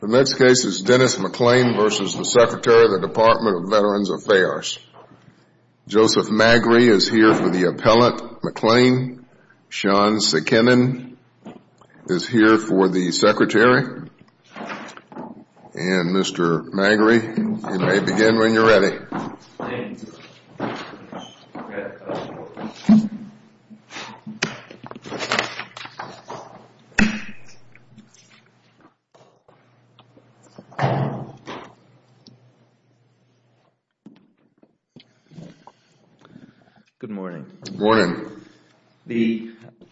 The next case is Dennis McLain v. Secretary, Department of Veterans Affairs. Joseph Magri is here for the appellant. McLain, Sean Sikinen is here for the secretary. And Mr. Magri, you may begin when you're ready. Dennis McLain v. Secretary, Department of Veterans Affairs Good morning. Good morning.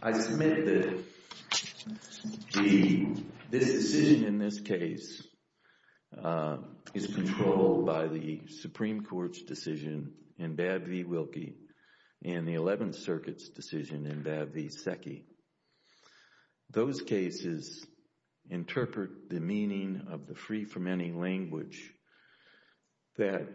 I submit that this decision in this case is controlled by the Supreme Court's decision in Babb v. Wilkie and the Eleventh Circuit's decision in Babb v. Secchi. Those cases interpret the meaning of the free-for-many language that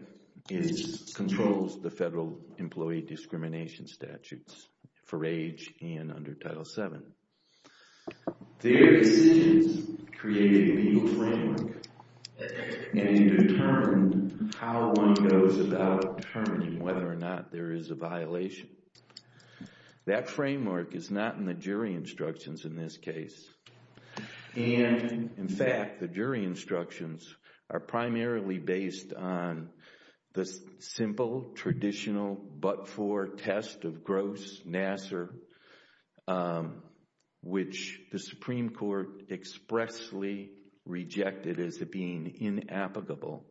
controls the federal employee discrimination statutes for age and under Title VII. Their decisions created a legal framework and determined how one goes about determining whether or not there is a violation. That framework is not in the jury instructions in this case. And, in fact, the jury instructions are primarily based on the simple, traditional, but-for test of gross nasser, which the Supreme Court expressly rejected as being inapplicable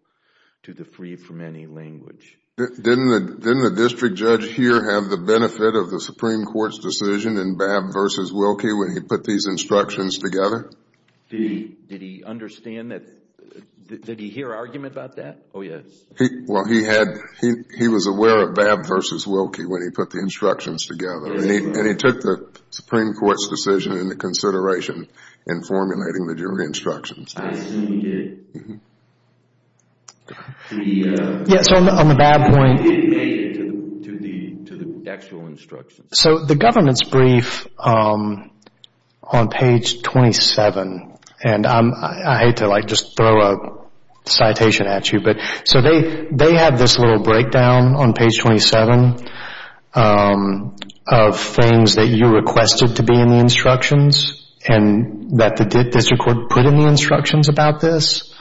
to the free-for-many language. Didn't the district judge here have the benefit of the Supreme Court's decision in Babb v. Wilkie when he put these instructions together? Did he understand that? Did he hear argument about that? Oh, yes. Well, he was aware of Babb v. Wilkie when he put the instructions together. And he took the Supreme Court's decision into consideration in formulating the jury instructions. I assumed it. Yes, on the Babb point. It made it to the actual instructions. So the government's brief on page 27, and I hate to just throw a citation at you, but so they have this little breakdown on page 27 of things that you requested to be in the instructions and that the district court put in the instructions about this.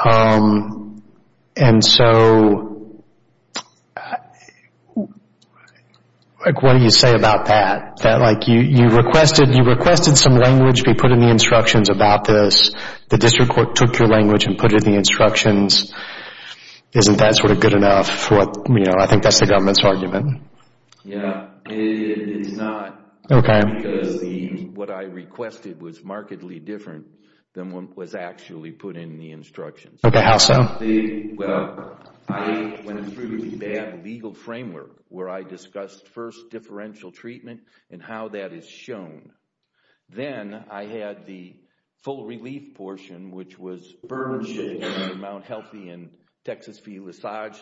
And so, like, what do you say about that? That, like, you requested some language be put in the instructions about this. The district court took your language and put it in the instructions. Isn't that sort of good enough? You know, I think that's the government's argument. Yeah, it's not. Okay. Because what I requested was markedly different than what was actually put in the instructions. Okay, how so? Well, I went through the Babb legal framework, where I discussed first differential treatment and how that is shown. Then I had the full relief portion, which was burdenship to Mount Healthy and Texas v. Lissage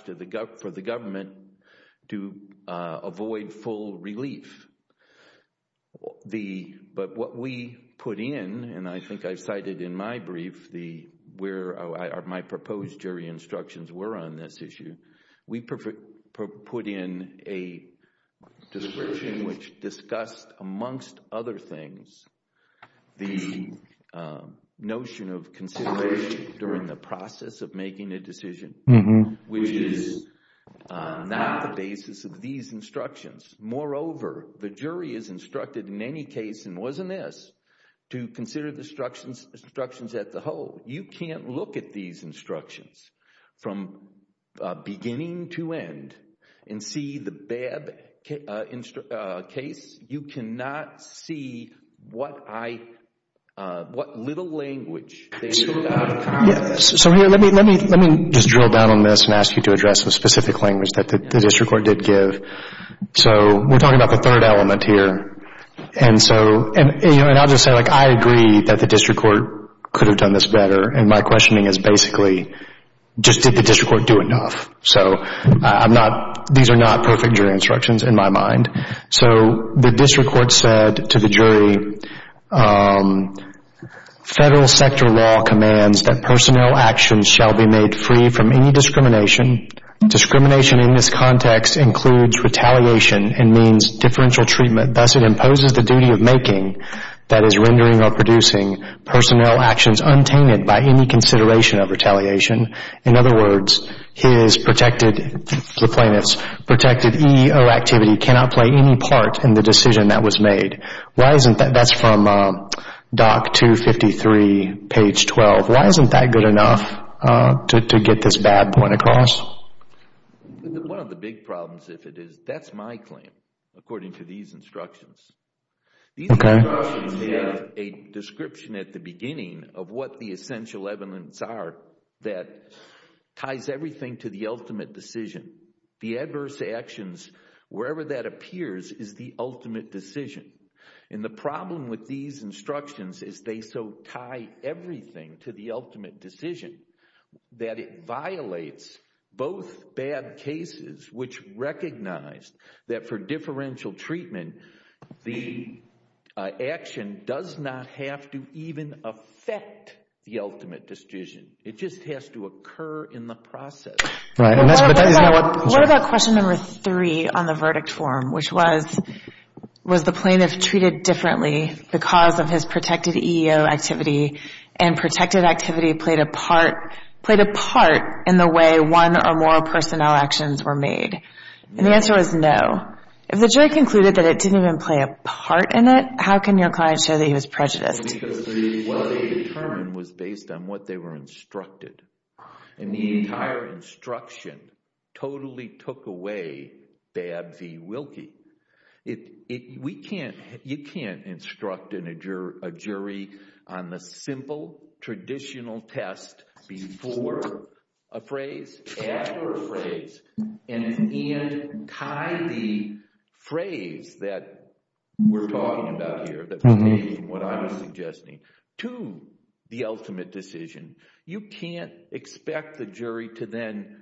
for the government to avoid full relief. But what we put in, and I think I cited in my brief where my proposed jury instructions were on this issue, we put in a description which discussed amongst other things the notion of consideration during the process of making a decision, which is not the basis of these instructions. Moreover, the jury is instructed in any case, and was in this, to consider the instructions as a whole. You can't look at these instructions from beginning to end and see the Babb case. You cannot see what little language they did out of power. So let me just drill down on this and ask you to address the specific language that the district court did give. So we're talking about the third element here. And I'll just say I agree that the district court could have done this better, and my questioning is basically just did the district court do enough? So these are not perfect jury instructions in my mind. So the district court said to the jury, federal sector law commands that personnel actions shall be made free from any discrimination. Discrimination in this context includes retaliation and means differential treatment, thus it imposes the duty of making, that is rendering or producing, personnel actions untainted by any consideration of retaliation. In other words, the plaintiff's protected EEO activity cannot play any part in the decision that was made. That's from Doc 253, page 12. Why isn't that good enough to get this Babb point across? One of the big problems, if it is, that's my claim according to these instructions. These instructions have a description at the beginning of what the essential evidence are that ties everything to the ultimate decision. The adverse actions, wherever that appears, is the ultimate decision. And the problem with these instructions is they so tie everything to the ultimate decision that it violates both bad cases, which recognize that for differential treatment, the action does not have to even affect the ultimate decision. It just has to occur in the process. What about question number three on the verdict form, which was, was the plaintiff treated differently because of his protected EEO activity and protected activity played a part in the way one or more personnel actions were made? And the answer was no. If the jury concluded that it didn't even play a part in it, how can your client show that he was prejudiced? What they determined was based on what they were instructed. And the entire instruction totally took away Babb v. Wilkie. You can't instruct a jury on the simple, traditional test before a phrase, after a phrase, and tie the phrase that we're talking about here, that was made from what I was suggesting, to the ultimate decision. You can't expect the jury to then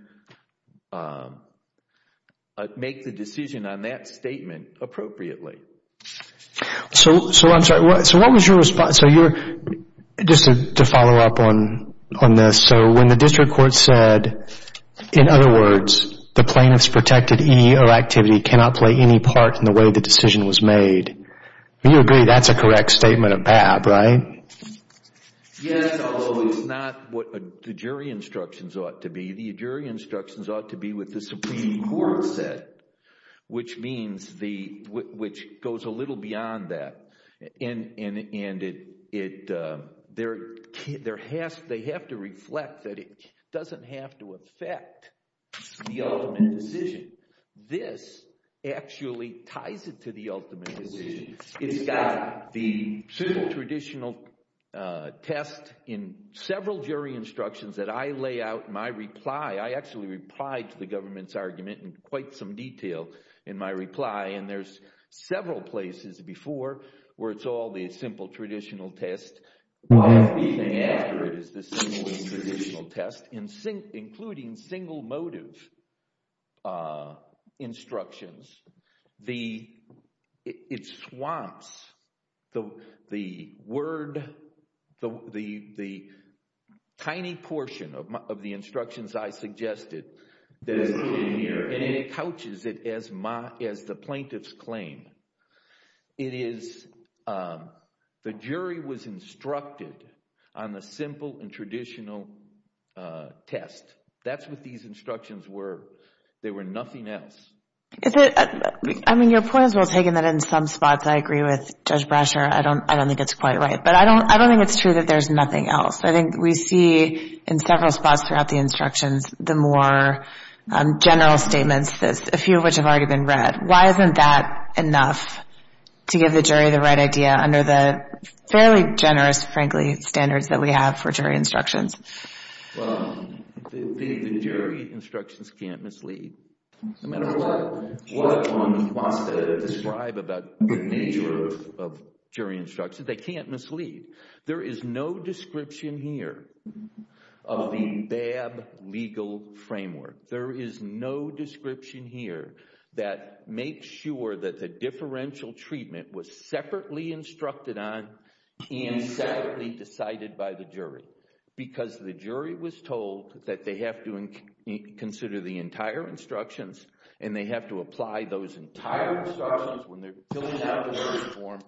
make the decision on that statement appropriately. So I'm sorry, so what was your response? Just to follow up on this, so when the district court said, in other words, the plaintiff's protected EEO activity cannot play any part in the way the decision was made, you agree that's a correct statement of Babb, right? Yes, although it's not what the jury instructions ought to be. The jury instructions ought to be what the Supreme Court said, which goes a little beyond that. And they have to reflect that it doesn't have to affect the ultimate decision. This actually ties it to the ultimate decision. It's got the simple, traditional test in several jury instructions that I lay out in my reply. I actually replied to the government's argument in quite some detail in my reply, and there's several places before where it's all the simple, traditional test. The only thing after it is the simple, traditional test, including single motive instructions. It swamps the word, the tiny portion of the instructions I suggested that is in here, and it couches it as the plaintiff's claim. It is the jury was instructed on the simple and traditional test. That's what these instructions were. They were nothing else. I mean, your point is well taken, that in some spots I agree with Judge Brasher. I don't think it's quite right, but I don't think it's true that there's nothing else. I think we see in several spots throughout the instructions the more general statements, a few of which have already been read. Why isn't that enough to give the jury the right idea under the fairly generous, frankly, standards that we have for jury instructions? Well, the jury instructions can't mislead. No matter what one wants to describe about the nature of jury instructions, they can't mislead. There is no description here of the BAB legal framework. There is no description here that makes sure that the differential treatment was separately instructed on and separately decided by the jury because the jury was told that they have to consider the entire instructions and they have to apply those entire instructions when they're filling out the jury form,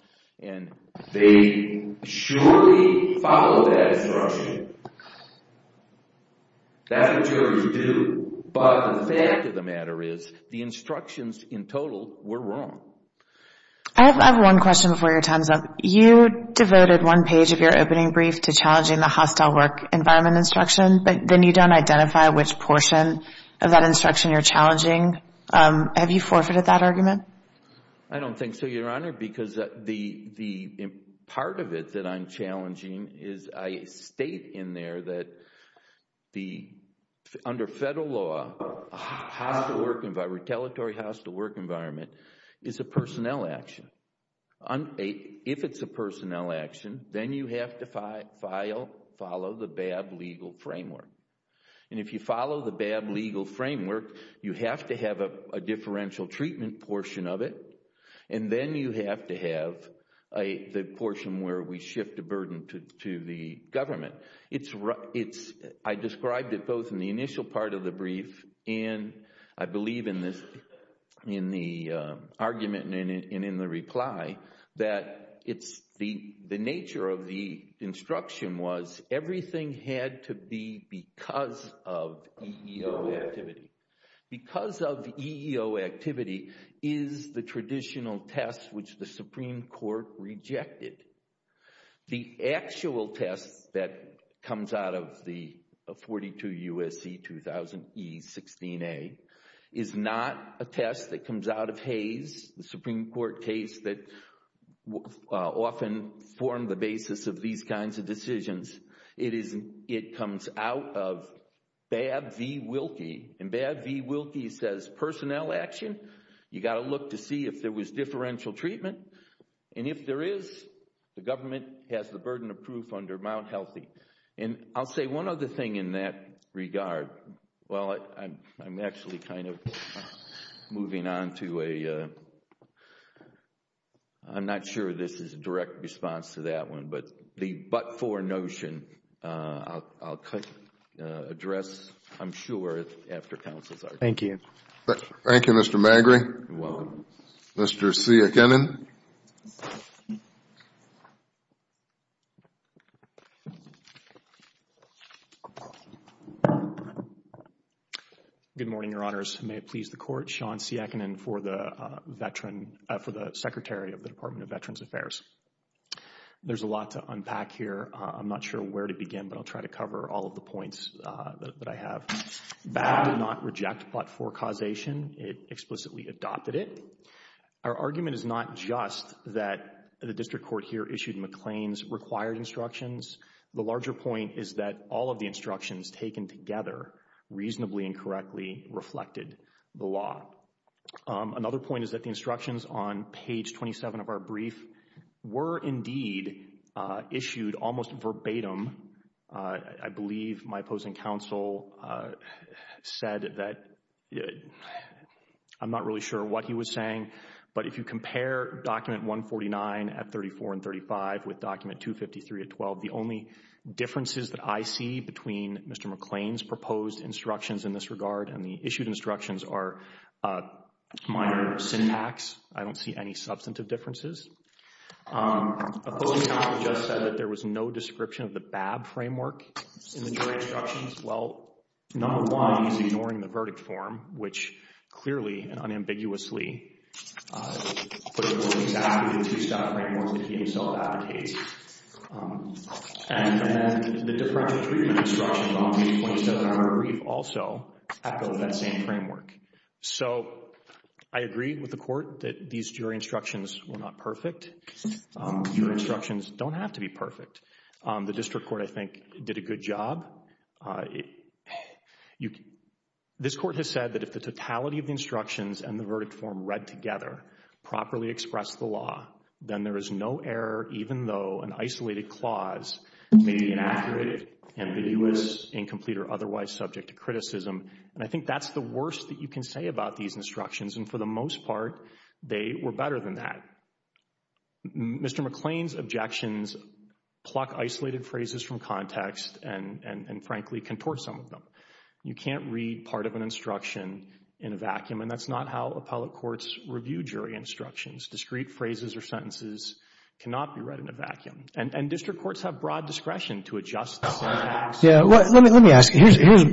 and they surely follow that instruction. That's what juries do, but the fact of the matter is the instructions in total were wrong. I have one question before your time's up. You devoted one page of your opening brief to challenging the hostile work environment instruction, but then you don't identify which portion of that instruction you're challenging. Have you forfeited that argument? I don't think so, Your Honor, because the part of it that I'm challenging is that I state in there that under federal law, a hostile work environment, a retaliatory hostile work environment is a personnel action. If it's a personnel action, then you have to follow the BAB legal framework, and if you follow the BAB legal framework, you have to have a differential treatment portion of it, and then you have to have the portion where we shift the burden to the government. I described it both in the initial part of the brief and I believe in the argument and in the reply that the nature of the instruction was everything had to be because of EEO activity. Because of EEO activity is the traditional test which the Supreme Court rejected. The actual test that comes out of the 42 U.S.C. 2000 E16A is not a test that comes out of Hays, the Supreme Court case that often formed the basis of these kinds of decisions. It comes out of BAB v. Wilkie, and BAB v. Wilkie says personnel action, you've got to look to see if there was differential treatment, and if there is, the government has the burden of proof under Mount Healthy. I'll say one other thing in that regard. Well, I'm actually kind of moving on to a, I'm not sure this is a direct response to that one, but the but-for notion I'll address, I'm sure, after counsel's argument. Thank you. Thank you, Mr. Magri. You're welcome. Mr. Siakonin. Good morning, Your Honors. May it please the Court. Sean Siakonin for the Secretary of the Department of Veterans Affairs. There's a lot to unpack here. I'm not sure where to begin, but I'll try to cover all of the points that I have. BAB did not reject but-for causation. It explicitly adopted it. Our argument is not just that the district court here issued McLean's required instructions. The larger point is that all of the instructions taken together reasonably and correctly reflected the law. Another point is that the instructions on page 27 of our brief were indeed issued almost verbatim. I believe my opposing counsel said that I'm not really sure what he was saying, but if you compare document 149 at 34 and 35 with document 253 at 12, the only differences that I see between Mr. McLean's proposed instructions in this regard and the issued instructions are minor syntax. I don't see any substantive differences. Opposing counsel just said that there was no description of the BAB framework in the jury instructions. Well, number one, he's ignoring the verdict form, which clearly and unambiguously puts forth exactly the two-step framework that he himself advocates. And then the differential treatment instructions on page 27 of our brief also echo that same framework. So I agree with the court that these jury instructions were not perfect. Jury instructions don't have to be perfect. The district court, I think, did a good job. This court has said that if the totality of the instructions and the verdict form read together properly express the law, then there is no error, even though an isolated clause may be inaccurate, ambiguous, incomplete, or otherwise subject to criticism. And I think that's the worst that you can say about these instructions. And for the most part, they were better than that. Mr. McLean's objections pluck isolated phrases from context and, frankly, contort some of them. You can't read part of an instruction in a vacuum, and that's not how appellate courts review jury instructions. Discrete phrases or sentences cannot be read in a vacuum. And district courts have broad discretion to adjust the syntax. Yeah, well, let me ask you.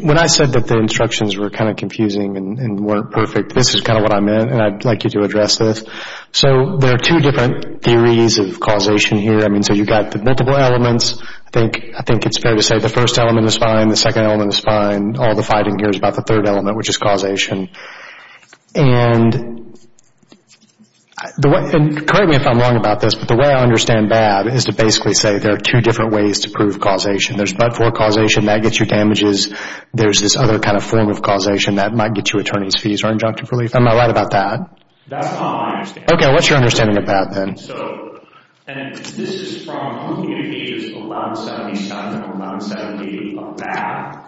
When I said that the instructions were kind of confusing and weren't perfect, this is kind of what I meant, and I'd like you to address this. So there are two different theories of causation here. I mean, so you've got the multiple elements. I think it's fair to say the first element is fine, the second element is fine. All the fighting here is about the third element, which is causation. And correct me if I'm wrong about this, but the way I understand BAD is to basically say there are two different ways to prove causation. There's but-for causation. That gets you damages. There's this other kind of form of causation that might get you attorney's fees or injunctive relief. Am I right about that? That's not my understanding. Okay. What's your understanding of BAD, then? And this is from looking at pages 1177 and 1178 of BAD.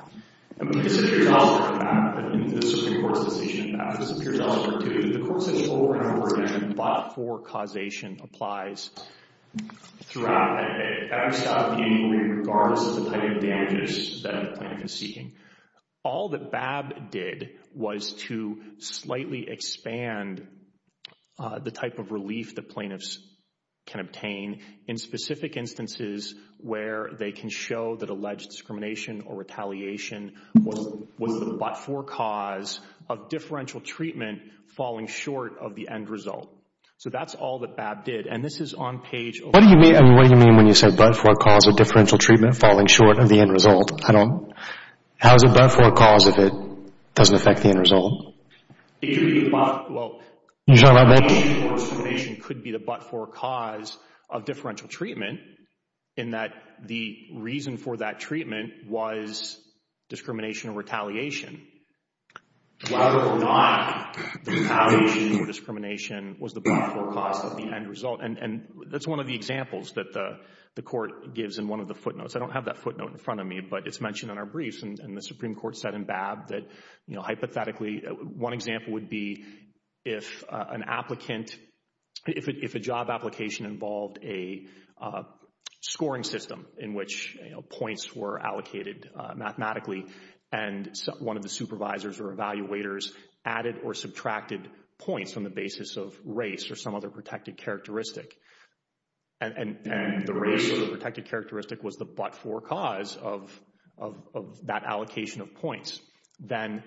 And this appears elsewhere in BAD, in the Supreme Court's decision in BAD. This appears elsewhere, too. The Court says over and over again that but-for causation applies throughout. It can't be stopped in any way, regardless of the type of damages that the plaintiff is seeking. All that BAD did was to slightly expand the type of relief that plaintiffs can obtain in specific instances where they can show that alleged discrimination or retaliation was the but-for cause of differential treatment falling short of the end result. So that's all that BAD did. And this is on page 11— What do you mean when you say but-for cause of differential treatment falling short of the end result? How is it but-for cause if it doesn't affect the end result? It could be the but— You're talking about BAD? Well, retaliation or discrimination could be the but-for cause of differential treatment, in that the reason for that treatment was discrimination or retaliation. Whether or not retaliation or discrimination was the but-for cause of the end result. And that's one of the examples that the Court gives in one of the footnotes. I don't have that footnote in front of me, but it's mentioned in our briefs. And the Supreme Court said in BAD that hypothetically one example would be if an applicant— if a job application involved a scoring system in which points were allocated mathematically and one of the supervisors or evaluators added or subtracted points on the basis of race or some other protected characteristic. And the race or protected characteristic was the but-for cause of that allocation of points. Then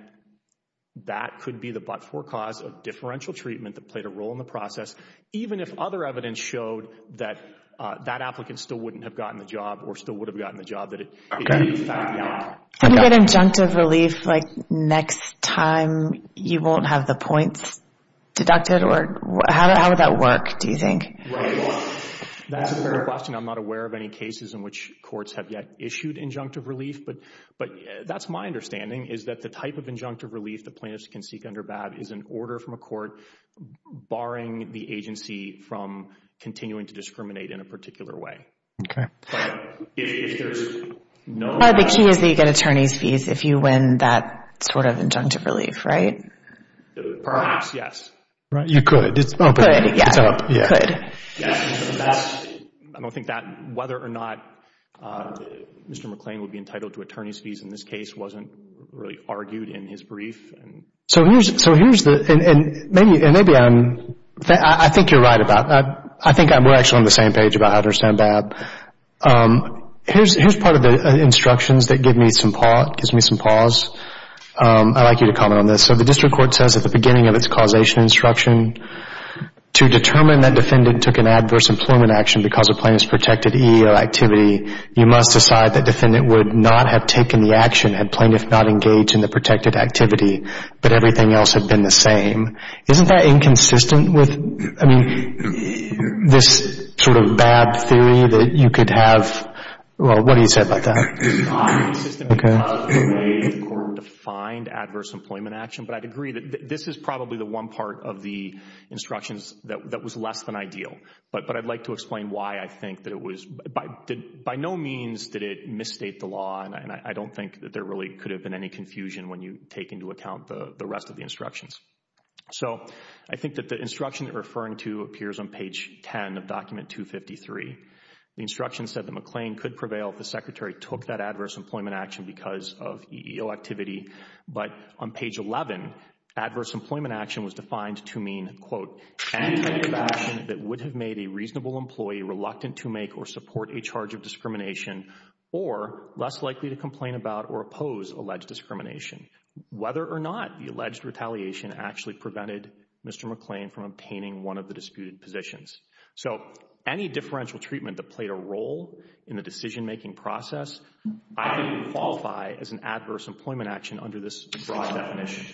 that could be the but-for cause of differential treatment that played a role in the process, even if other evidence showed that that applicant still wouldn't have gotten the job or still would have gotten the job that it needed to find out. Can we get injunctive relief like next time you won't have the points deducted? How would that work, do you think? That's a good question. I'm not aware of any cases in which courts have yet issued injunctive relief, but that's my understanding is that the type of injunctive relief the plaintiffs can seek under BAD is an order from a court barring the agency from continuing to discriminate in a particular way. Okay. But if there's no— The key is that you get attorney's fees if you win that sort of injunctive relief, right? Perhaps, yes. You could. Could, yes. It's up. Could. I don't think that whether or not Mr. McClain would be entitled to attorney's fees in this case wasn't really argued in his brief. So here's the—and maybe I'm—I think you're right about that. I think we're actually on the same page about how to understand BAD. Here's part of the instructions that gives me some pause. I'd like you to comment on this. So the district court says at the beginning of its causation instruction, to determine that defendant took an adverse employment action because of plaintiff's protected EEO activity, you must decide that defendant would not have taken the action had plaintiff not engaged in the protected activity, but everything else had been the same. Isn't that inconsistent with, I mean, this sort of BAD theory that you could have— well, what do you say about that? It's not inconsistent because the way the court defined adverse employment action, but I'd agree that this is probably the one part of the instructions that was less than ideal. But I'd like to explain why I think that it was—by no means did it misstate the law, and I don't think that there really could have been any confusion when you take into account the rest of the instructions. So I think that the instruction you're referring to appears on page 10 of document 253. The instruction said that McLean could prevail if the secretary took that adverse employment action because of EEO activity. But on page 11, adverse employment action was defined to mean, quote, any type of action that would have made a reasonable employee reluctant to make or support a charge of discrimination or less likely to complain about or oppose alleged discrimination. Whether or not the alleged retaliation actually prevented Mr. McLean from obtaining one of the disputed positions. So any differential treatment that played a role in the decision-making process, I would qualify as an adverse employment action under this broad definition,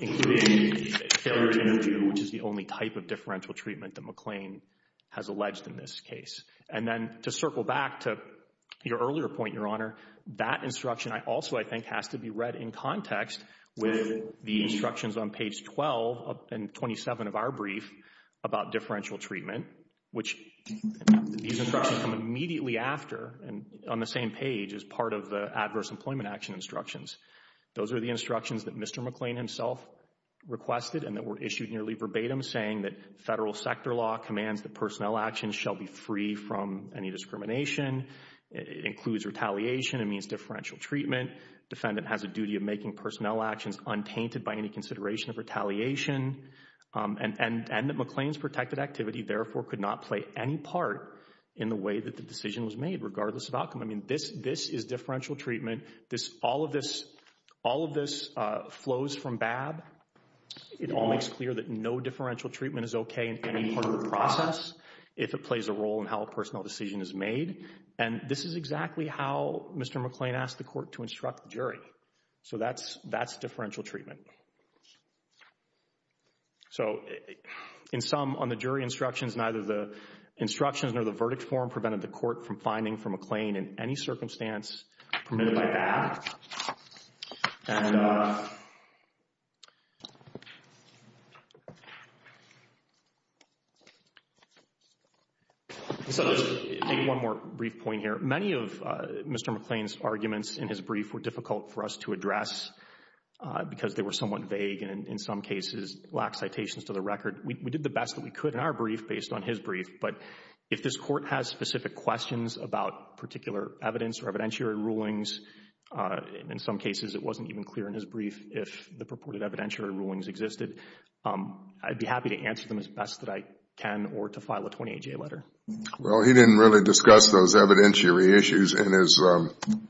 including failure to interview, which is the only type of differential treatment that McLean has alleged in this case. And then to circle back to your earlier point, Your Honor, that instruction also I think has to be read in context with the instructions on page 12 and 27 of our brief about differential treatment, which these instructions come immediately after and on the same page as part of the adverse employment action instructions. Those are the instructions that Mr. McLean himself requested and that were issued nearly verbatim saying that federal sector law commands that personnel actions shall be free from any discrimination. It includes retaliation. It means differential treatment. Defendant has a duty of making personnel actions untainted by any consideration of retaliation and that McLean's protected activity therefore could not play any part in the way that the decision was made, regardless of outcome. I mean, this is differential treatment. All of this flows from BAB. It all makes clear that no differential treatment is okay in any part of the process if it plays a role in how a personnel decision is made. And this is exactly how Mr. McLean asked the court to instruct the jury. So that's differential treatment. So in sum, on the jury instructions, neither the instructions nor the verdict form prevented the court from finding for McLean in any circumstance permitted by BAB. And so just to make one more brief point here, many of Mr. McLean's arguments in his brief were difficult for us to address because they were somewhat vague and in some cases lacked citations to the record. We did the best that we could in our brief based on his brief, but if this court has specific questions about particular evidence or evidentiary rulings, in some cases it wasn't even clear in his brief if the purported evidentiary rulings existed, I'd be happy to answer them as best that I can or to file a 28-J letter. Well, he didn't really discuss those evidentiary issues in his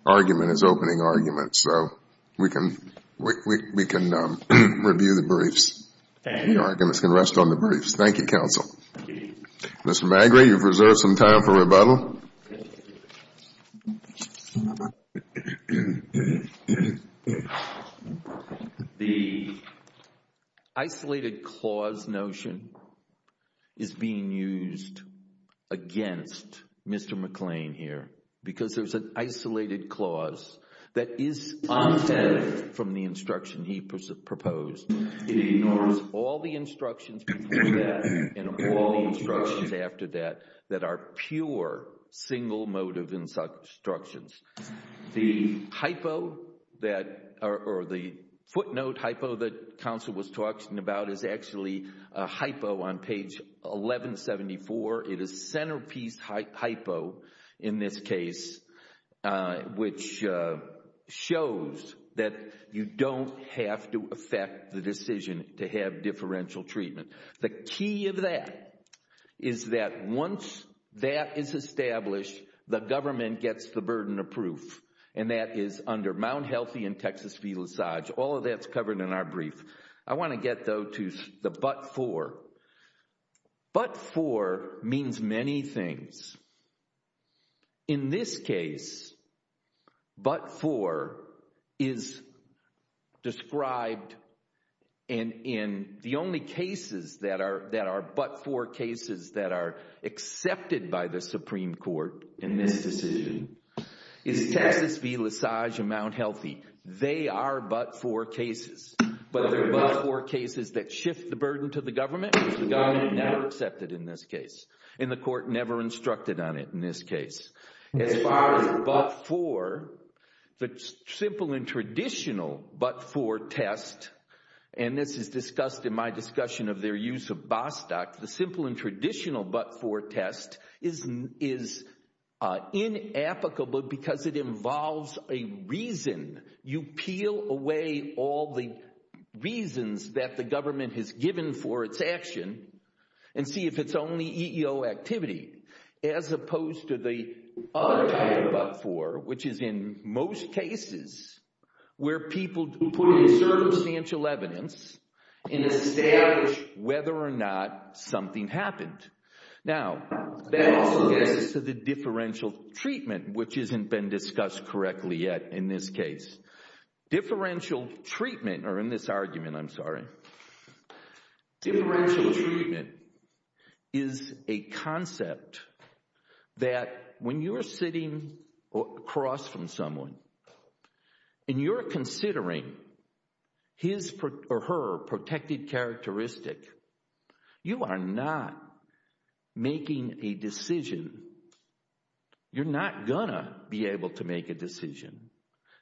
argument, his opening argument. So we can review the briefs. The arguments can rest on the briefs. Thank you, counsel. Mr. Magrie, you've reserved some time for rebuttal. The isolated clause notion is being used against Mr. McLean here because there's an isolated clause that is untested from the instruction he proposed. It ignores all the instructions before that and all the instructions after that that are pure, single-motive instructions. The footnote hypo that counsel was talking about is actually a hypo on page 1174. It is centerpiece hypo in this case, which shows that you don't have to affect the decision to have differential treatment. The key of that is that once that is established, the government gets the burden of proof, and that is under Mount Healthy and Texas v. LaSage. All of that's covered in our brief. I want to get, though, to the but for. But for means many things. In this case, but for is described in the only cases that are but for cases that are accepted by the Supreme Court in this decision is Texas v. LaSage and Mount Healthy. They are but for cases, but they're but for cases that shift the burden to the government, which the government never accepted in this case, and the court never instructed on it in this case. As far as but for, the simple and traditional but for test, and this is discussed in my discussion of their use of Bostock, the simple and traditional but for test is inapplicable because it involves a reason. You peel away all the reasons that the government has given for its action and see if it's only EEO activity as opposed to the other type of but for, which is in most cases where people put in circumstantial evidence and establish whether or not something happened. Now, that also gets to the differential treatment, which hasn't been discussed correctly yet in this case. Differential treatment, or in this argument, I'm sorry. Differential treatment is a concept that when you're sitting across from someone and you're considering his or her protected characteristic, you are not making a decision. You're not going to be able to make a decision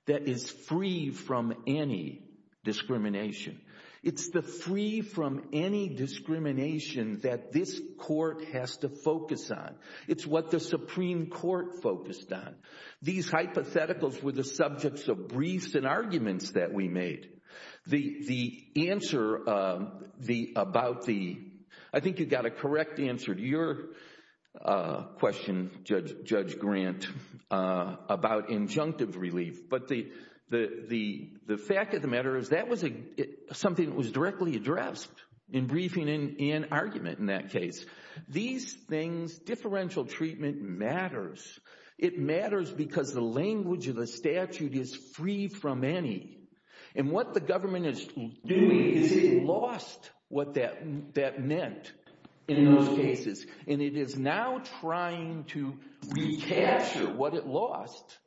that is free from any discrimination. It's the free from any discrimination that this court has to focus on. It's what the Supreme Court focused on. These hypotheticals were the subjects of briefs and arguments that we made. The answer about the, I think you got a correct answer to your question, Judge Grant, about injunctive relief, but the fact of the matter is that was something that was directly addressed in briefing and argument in that case. These things, differential treatment matters. It matters because the language of the statute is free from any, and what the government is doing is it lost what that meant in those cases, and it is now trying to recapture what it lost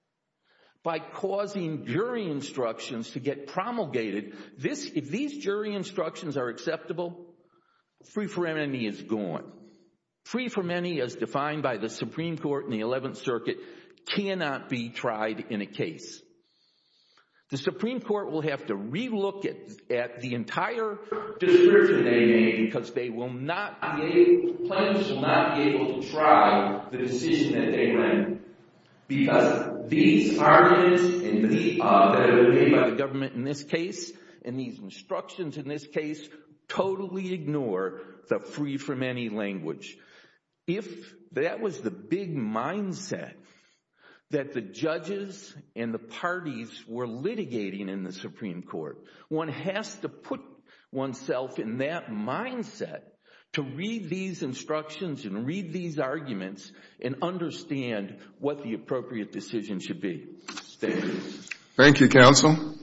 by causing jury instructions to get promulgated. If these jury instructions are acceptable, free from any is gone. Free from any, as defined by the Supreme Court in the Eleventh Circuit, cannot be tried in a case. The Supreme Court will have to relook at the entire discrimination that they made because they will not be able, plaintiffs will not be able to try the decision that they made because these arguments that were made by the government in this case and these instructions in this case totally ignore the free from any language. If that was the big mindset that the judges and the parties were litigating in the Supreme Court, one has to put oneself in that mindset to read these instructions and read these arguments and understand what the appropriate decision should be. Thank you. Thank you, Counsel.